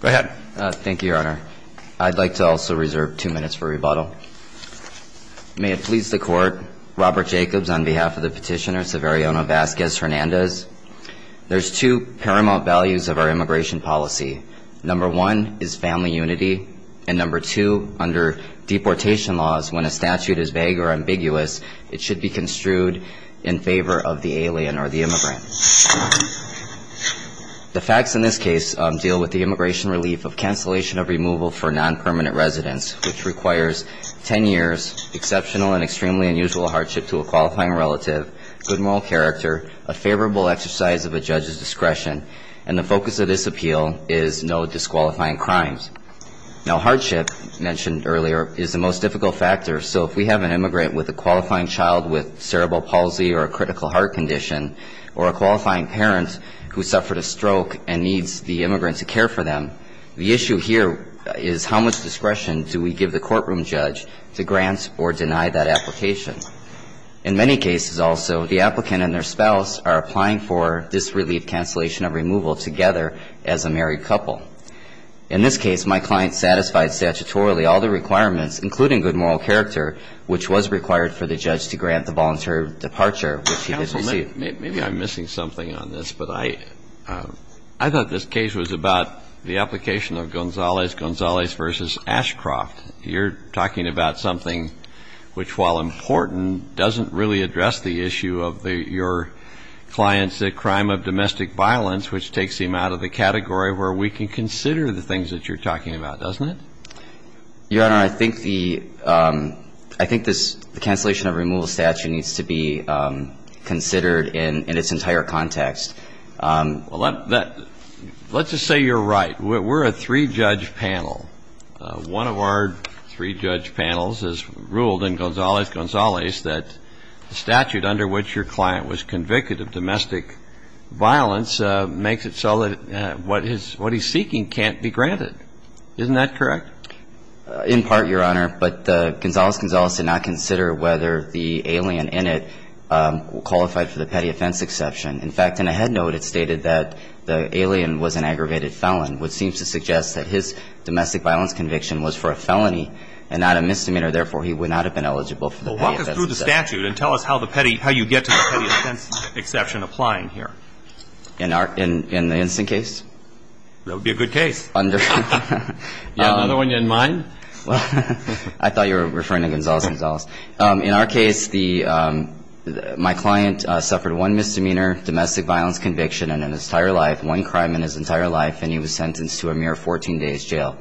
Go ahead. Thank you, your honor. I'd like to also reserve two minutes for rebuttal. May it please the court, Robert Jacobs on behalf of the petitioner Severiano Vazquez-Hernandez, there's two paramount values of our immigration policy. Number one is family unity, and number two, under deportation laws, when a statute is vague or ambiguous, it should be construed in favor of the alien or the immigrant. The facts in this case deal with the immigration relief of cancellation of removal for non-permanent residents, which requires ten years, exceptional and extremely unusual hardship to a qualifying relative, good moral character, a favorable exercise of a judge's discretion, and the focus of this appeal is no disqualifying crimes. Now hardship, mentioned earlier, is the most difficult factor, so if we have an immigrant with a qualifying child with cerebral palsy or a critical heart condition, or a qualifying parent who suffered a stroke and needs the immigrant to care for them, the issue here is how much discretion do we give the courtroom judge to grant or deny that application. In many cases also, the applicant and their spouse are applying for this relief cancellation of removal together as a married couple. In this case, my client satisfied statutorily all the requirements, including good moral character, which was required for the judge to grant the voluntary departure, which he did receive. Maybe I'm missing something on this, but I thought this case was about the application of Gonzalez-Gonzalez v. Ashcroft. You're talking about something which, while important, doesn't really address the issue of your client's crime of domestic violence, which takes him out of the category where we can consider the things that you're talking about, doesn't it? Your Honor, I think the ‑‑ I think the cancellation of removal statute needs to be considered in its entire context. Well, let's just say you're right. We're a three-judge panel. One of our three-judge panels has ruled in Gonzalez-Gonzalez that the statute under which your client was convicted of domestic violence makes it so that what he's seeking can't be granted. Isn't that correct? In part, Your Honor, but Gonzalez-Gonzalez did not consider whether the alien in it qualified for the petty offense exception. In fact, in a head note, it stated that the alien was an aggravated felon, which seems to suggest that his domestic violence conviction was for a felony and not a misdemeanor. Therefore, he would not have been eligible for the petty offense exception. Well, walk us through the statute and tell us how you get to the petty offense exception applying here. In the instant case? That would be a good case. You have another one in mind? I thought you were referring to Gonzalez-Gonzalez. In our case, my client suffered one misdemeanor domestic violence conviction in his entire life, one crime in his entire life, and he was sentenced to a mere 14 days jail.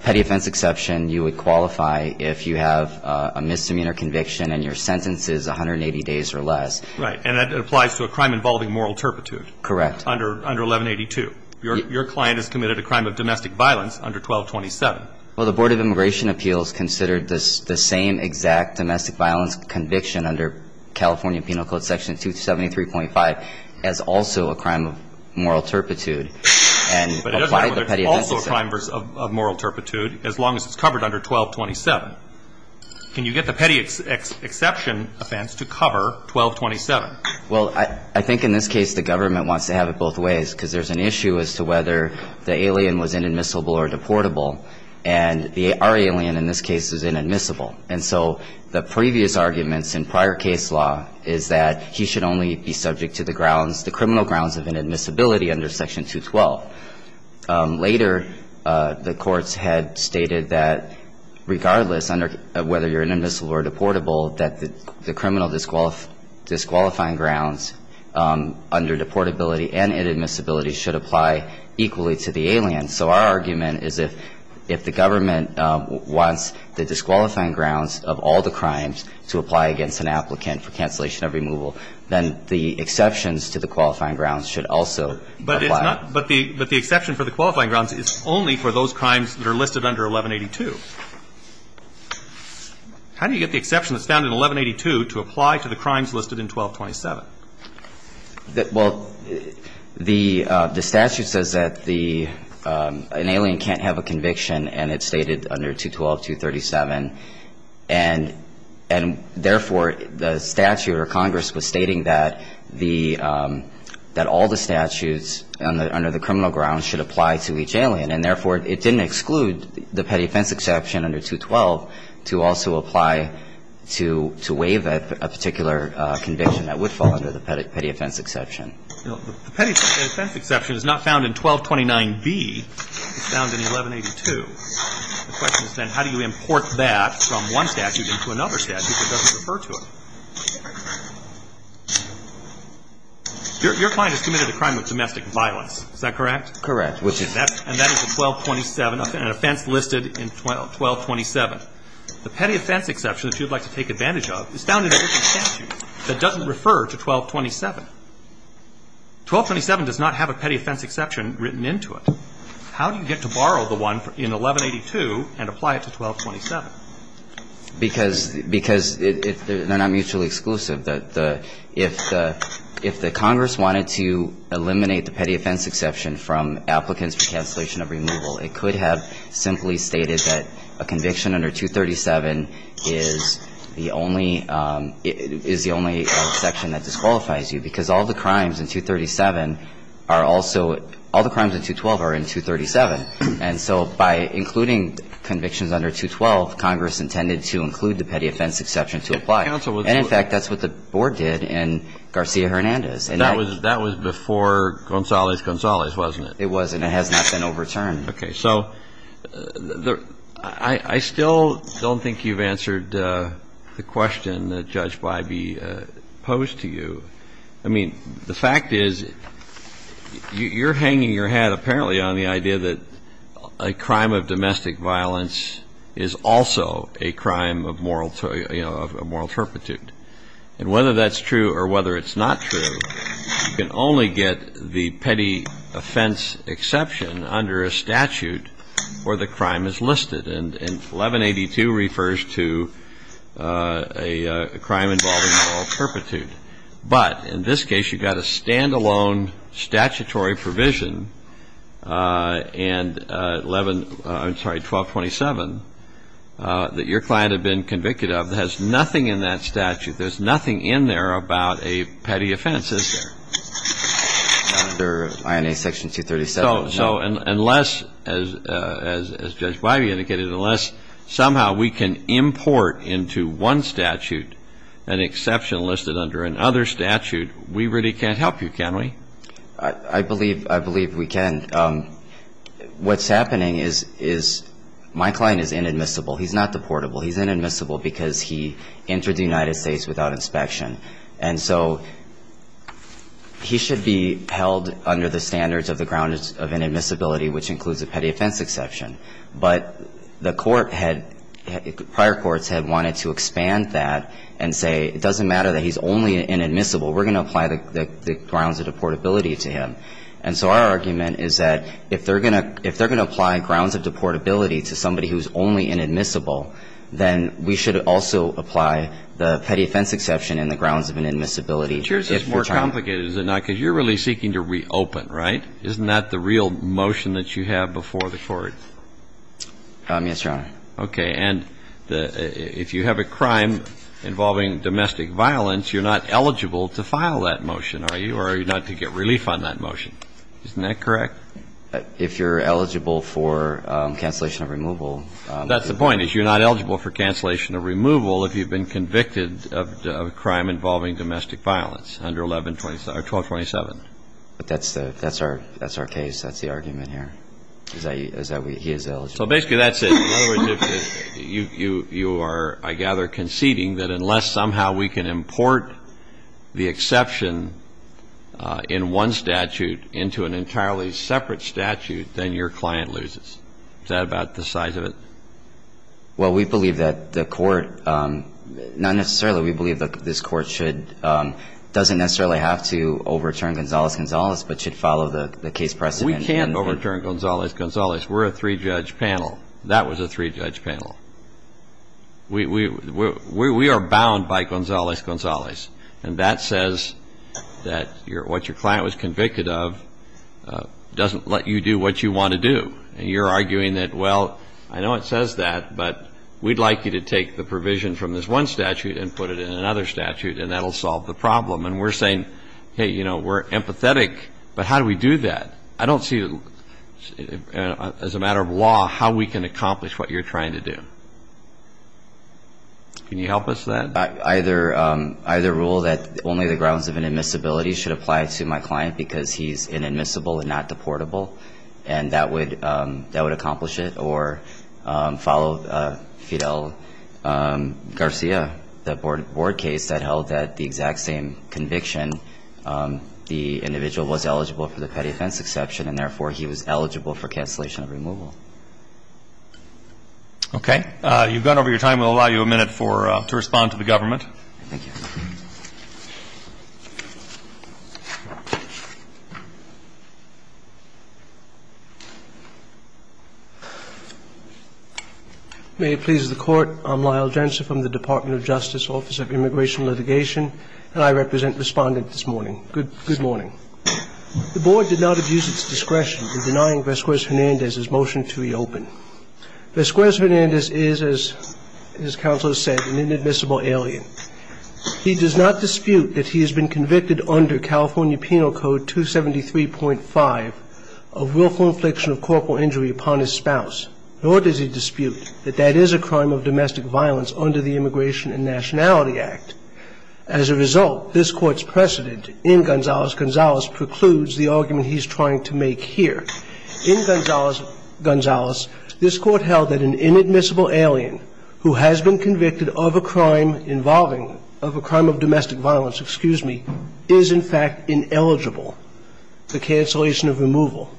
Petty offense exception, you would qualify if you have a misdemeanor conviction and your sentence is 180 days or less. Right. And that applies to a crime involving moral turpitude. Correct. Under 1182. Your client has committed a crime of domestic violence under 1227. Well, the Board of Immigration Appeals considered the same exact domestic violence conviction under California Penal Code Section 273.5 as also a crime of moral turpitude and applied the petty offense exception. But it doesn't matter if it's also a crime of moral turpitude as long as it's covered under 1227. Can you get the petty exception offense to cover 1227? Well, I think in this case the government wants to have it both ways because there's an issue as to whether the alien was inadmissible or deportable. And our alien in this case is inadmissible. And so the previous arguments in prior case law is that he should only be subject to the grounds, the criminal grounds of inadmissibility under Section 212. Later, the courts had stated that regardless of whether you're inadmissible or deportable, that the criminal disqualifying grounds under deportability and inadmissibility should apply equally to the alien. So our argument is if the government wants the disqualifying grounds of all the crimes to apply against an applicant for cancellation of removal, then the exceptions to the qualifying grounds should also apply. But the exception for the qualifying grounds is only for those crimes that are listed under 1182. How do you get the exception that's found in 1182 to apply to the crimes listed in 1227? Well, the statute says that an alien can't have a conviction, and it's stated under 212.237. And therefore, the statute or Congress was stating that all the statutes under the criminal grounds should apply to each alien. And therefore, it didn't exclude the petty offense exception under 212 to also apply to waive a particular conviction that would fall under the petty offense exception. The petty offense exception is not found in 1229B. It's found in 1182. The question is then how do you import that from one statute into another statute that doesn't refer to it? Your client has committed a crime of domestic violence. Is that correct? Correct. And that is a 1227 offense listed in 1227. The petty offense exception that you'd like to take advantage of is found in a different statute that doesn't refer to 1227. 1227 does not have a petty offense exception written into it. How do you get to borrow the one in 1182 and apply it to 1227? Because they're not mutually exclusive. If the Congress wanted to eliminate the petty offense exception from applicants for cancellation of removal, it could have simply stated that a conviction under 237 is the only exception that disqualifies you. Because all the crimes in 237 are also all the crimes in 212 are in 237. And so by including convictions under 212, Congress intended to include the petty offense exception to apply. And, in fact, that's what the Board did in Garcia-Hernandez. And that was before Gonzales-Gonzales, wasn't it? It was, and it has not been overturned. Okay. So I still don't think you've answered the question that Judge Bybee posed to you. I mean, the fact is you're hanging your hat apparently on the idea that a crime of domestic violence is also a crime of moral turpitude. And whether that's true or whether it's not true, you can only get the petty offense exception under a statute where the crime is listed. And 1182 refers to a crime involving moral turpitude. But in this case, you've got a stand-alone statutory provision and 1227 that your client had been convicted of that has nothing in that statute. There's nothing in there about a petty offense. Is there? Not under INA Section 237. So unless, as Judge Bybee indicated, unless somehow we can import into one statute an exception listed under another statute, we really can't help you, can we? I believe we can. What's happening is my client is inadmissible. He's not deportable. He's inadmissible because he entered the United States without inspection. And so he should be held under the standards of the grounds of inadmissibility, which includes a petty offense exception. But the court had, prior courts had wanted to expand that and say it doesn't matter that he's only inadmissible. We're going to apply the grounds of deportability to him. And so our argument is that if they're going to apply grounds of deportability to somebody who's only inadmissible, then we should also apply the petty offense exception in the grounds of inadmissibility. But yours is more complicated, is it not? Because you're really seeking to reopen, right? Isn't that the real motion that you have before the court? Yes, Your Honor. Okay. And if you have a crime involving domestic violence, you're not eligible to file that motion, are you, or are you not to get relief on that motion? Isn't that correct? If you're eligible for cancellation of removal. That's the point, is you're not eligible for cancellation of removal if you've been convicted of a crime involving domestic violence under 1127. But that's our case. That's the argument here, is that he is eligible. So basically that's it. In other words, you are, I gather, conceding that unless somehow we can import the exception in one statute into an entirely separate statute, then your client loses. Is that about the size of it? Well, we believe that the court, not necessarily, we believe that this court should, doesn't necessarily have to overturn Gonzalez-Gonzalez, but should follow the case precedent. We can overturn Gonzalez-Gonzalez. We're a three-judge panel. That was a three-judge panel. We are bound by Gonzalez-Gonzalez, and that says that what your client was convicted of doesn't let you do what you want to do. And you're arguing that, well, I know it says that, but we'd like you to take the provision from this one statute and put it in another statute, and that'll solve the problem. And we're saying, hey, you know, we're empathetic, but how do we do that? I don't see, as a matter of law, how we can accomplish what you're trying to do. Can you help us with that? Either rule that only the grounds of inadmissibility should apply to my client because he's inadmissible and not deportable. And that would accomplish it. Or follow Fidel Garcia, the board case that held that the exact same conviction, the individual was eligible for the petty offense exception, and therefore he was eligible for cancellation of removal. Okay. You've gone over your time. We'll allow you a minute to respond to the government. May it please the Court. I'm Lyle Jensen from the Department of Justice, Office of Immigration Litigation. And I represent the Respondent this morning. Good morning. The board did not abuse its discretion in denying Vesquez-Hernandez his motion to reopen. Vesquez-Hernandez is, as counsel has said, an inadmissible alien. He's not a criminal. He's not a criminal. He does not dispute that he has been convicted under California Penal Code 273.5 of willful infliction of corporal injury upon his spouse. Nor does he dispute that that is a crime of domestic violence under the Immigration and Nationality Act. As a result, this Court's precedent in Gonzales-Gonzales precludes the argument he's trying to make here. In Gonzales-Gonzales, this Court held that an inadmissible alien who has been guilty of a crime of domestic violence, excuse me, is in fact ineligible for cancellation of removal.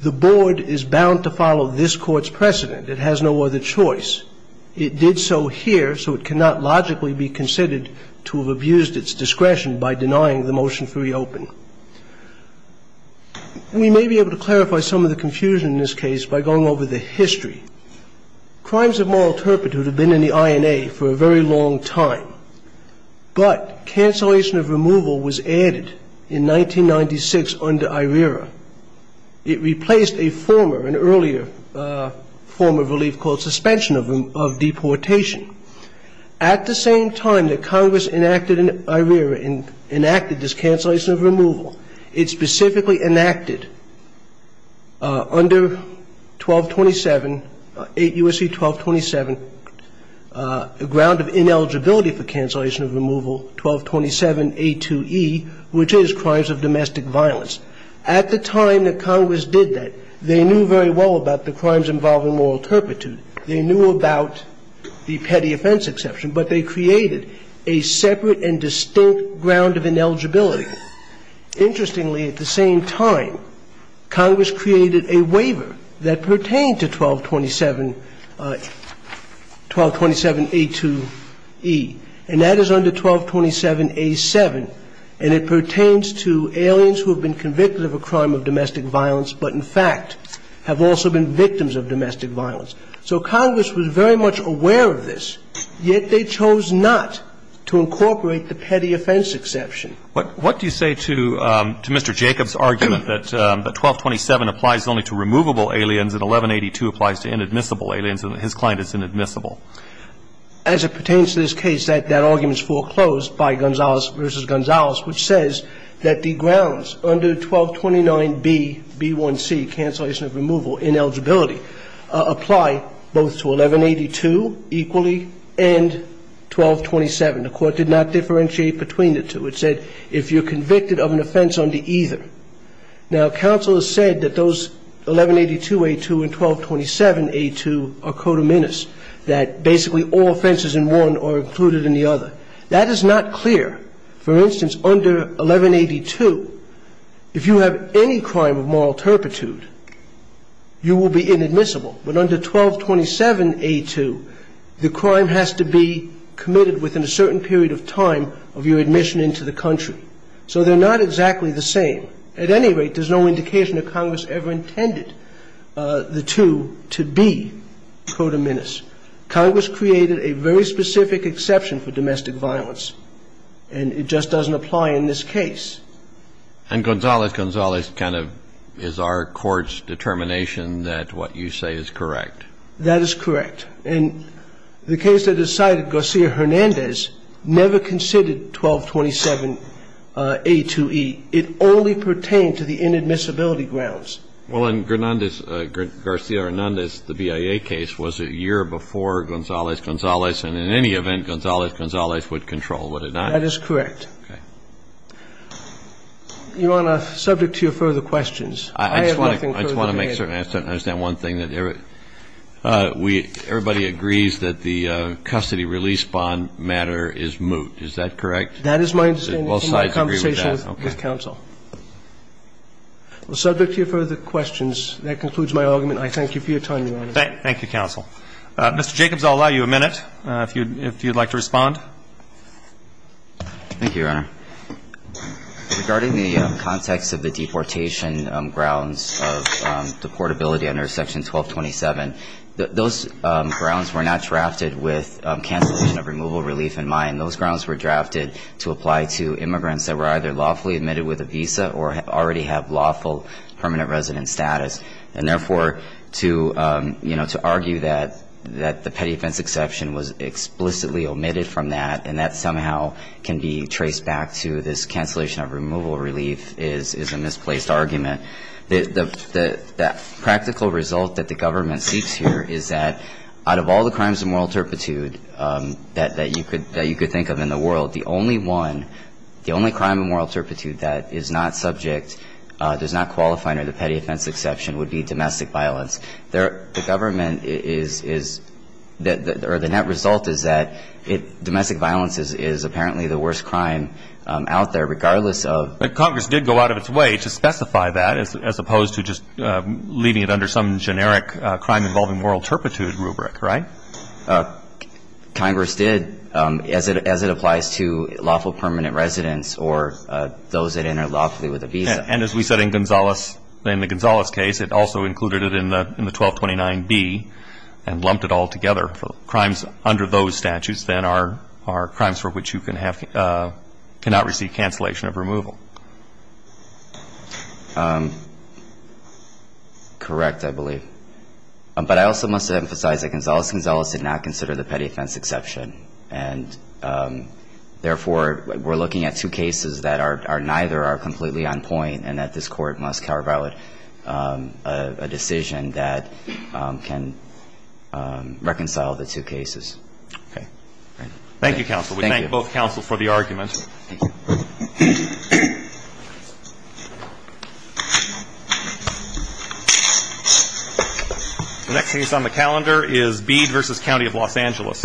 The board is bound to follow this Court's precedent. It has no other choice. It did so here, so it cannot logically be considered to have abused its discretion by denying the motion to reopen. We may be able to clarify some of the confusion in this case by going over the history. Crimes of moral turpitude have been in the INA for a very long time, but cancellation of removal was added in 1996 under IRERA. It replaced a former, an earlier form of relief called suspension of deportation. At the same time that Congress enacted IRERA and enacted this cancellation of removal, Congress created a separate and distinct ground of ineligibility. Interestingly, at the same time, Congress created a waiver that pertained to 1227 A2E, which is crimes of domestic violence. At the time that Congress did that, they knew very well about the crimes involving moral turpitude. They knew about the petty offense exception, but they created a separate and distinct ground of ineligibility. Interestingly, at the same time, Congress created a waiver that pertained to 1227 A2E, and that is under 1227 A7, and it pertains to aliens who have been convicted of a crime of domestic violence but, in fact, have also been victims of domestic violence. So Congress was very much aware of this, yet they chose not to incorporate the petty offense exception. What do you say to Mr. Jacob's argument that 1227 applies only to removable aliens and 1182 applies to inadmissible aliens and his client is inadmissible? As it pertains to this case, that argument is foreclosed by Gonzales v. Gonzales, which says that the grounds under 1229B, B1C, cancellation of removal, ineligibility, apply both to 1182 equally and 1227. The Court did not differentiate between the two. It said if you're convicted of an offense under either. Now, counsel has said that those 1182A2 and 1227A2 are codominis, that basically all offenses in one are included in the other. That is not clear. For instance, under 1182, if you have any crime of moral turpitude, you will be inadmissible. But under 1227A2, the crime has to be committed within a certain period of time of your admission into the country. So they're not exactly the same. At any rate, there's no indication that Congress ever intended the two to be codominis. Congress created a very specific exception for domestic violence, and it just doesn't apply in this case. And Gonzales, Gonzales kind of is our Court's determination that what you say is correct. That is correct. And the case that decided Garcia-Hernandez never considered 1227A2E. It only pertained to the inadmissibility grounds. Well, in Hernandez, Garcia-Hernandez, the BIA case, was a year before Gonzales, Gonzales, and in any event, Gonzales, Gonzales would control, would it not? That is correct. Okay. You're on a subject to your further questions. I have nothing further to add. I just want to make certain I understand one thing, that everybody agrees that the custody release bond matter is moot. Is that correct? That is my understanding. Both sides agree with that. In my conversation with counsel. Okay. Well, subject to your further questions, that concludes my argument. I thank you for your time, Your Honor. Thank you, counsel. Thank you, Your Honor. Regarding the context of the deportation grounds of deportability under Section 1227, those grounds were not drafted with cancellation of removal relief in mind. Those grounds were drafted to apply to immigrants that were either lawfully admitted with a visa or already have lawful permanent resident status. And therefore, to argue that the petty offense exception was explicitly omitted from that, and that somehow can be traced back to this cancellation of removal relief, is a misplaced argument. That practical result that the government seeks here is that out of all the crimes of moral turpitude that you could think of in the world, the only one, the only crime of moral turpitude that is not subject, does not qualify under the petty offense exception, would be domestic violence. The government is, or the net result is that domestic violence is apparently the worst crime out there, regardless of. But Congress did go out of its way to specify that, as opposed to just leaving it under some generic crime involving moral turpitude rubric, right? Congress did, as it applies to lawful permanent residents or those that enter lawfully with a visa. And as we said in Gonzales, in the Gonzales case, it also included it in the 1229B and lumped it all together. Crimes under those statutes then are crimes for which you cannot receive cancellation of removal. Correct, I believe. But I also must emphasize that Gonzales-Gonzales did not consider the petty offense exception. And, therefore, we're looking at two cases that are neither are completely on point and that this Court must carve out a decision that can reconcile the two cases. Okay. Thank you, counsel. Thank you. We thank both counsel for the argument. The next case on the calendar is Bede v. County of Los Angeles. Thank you.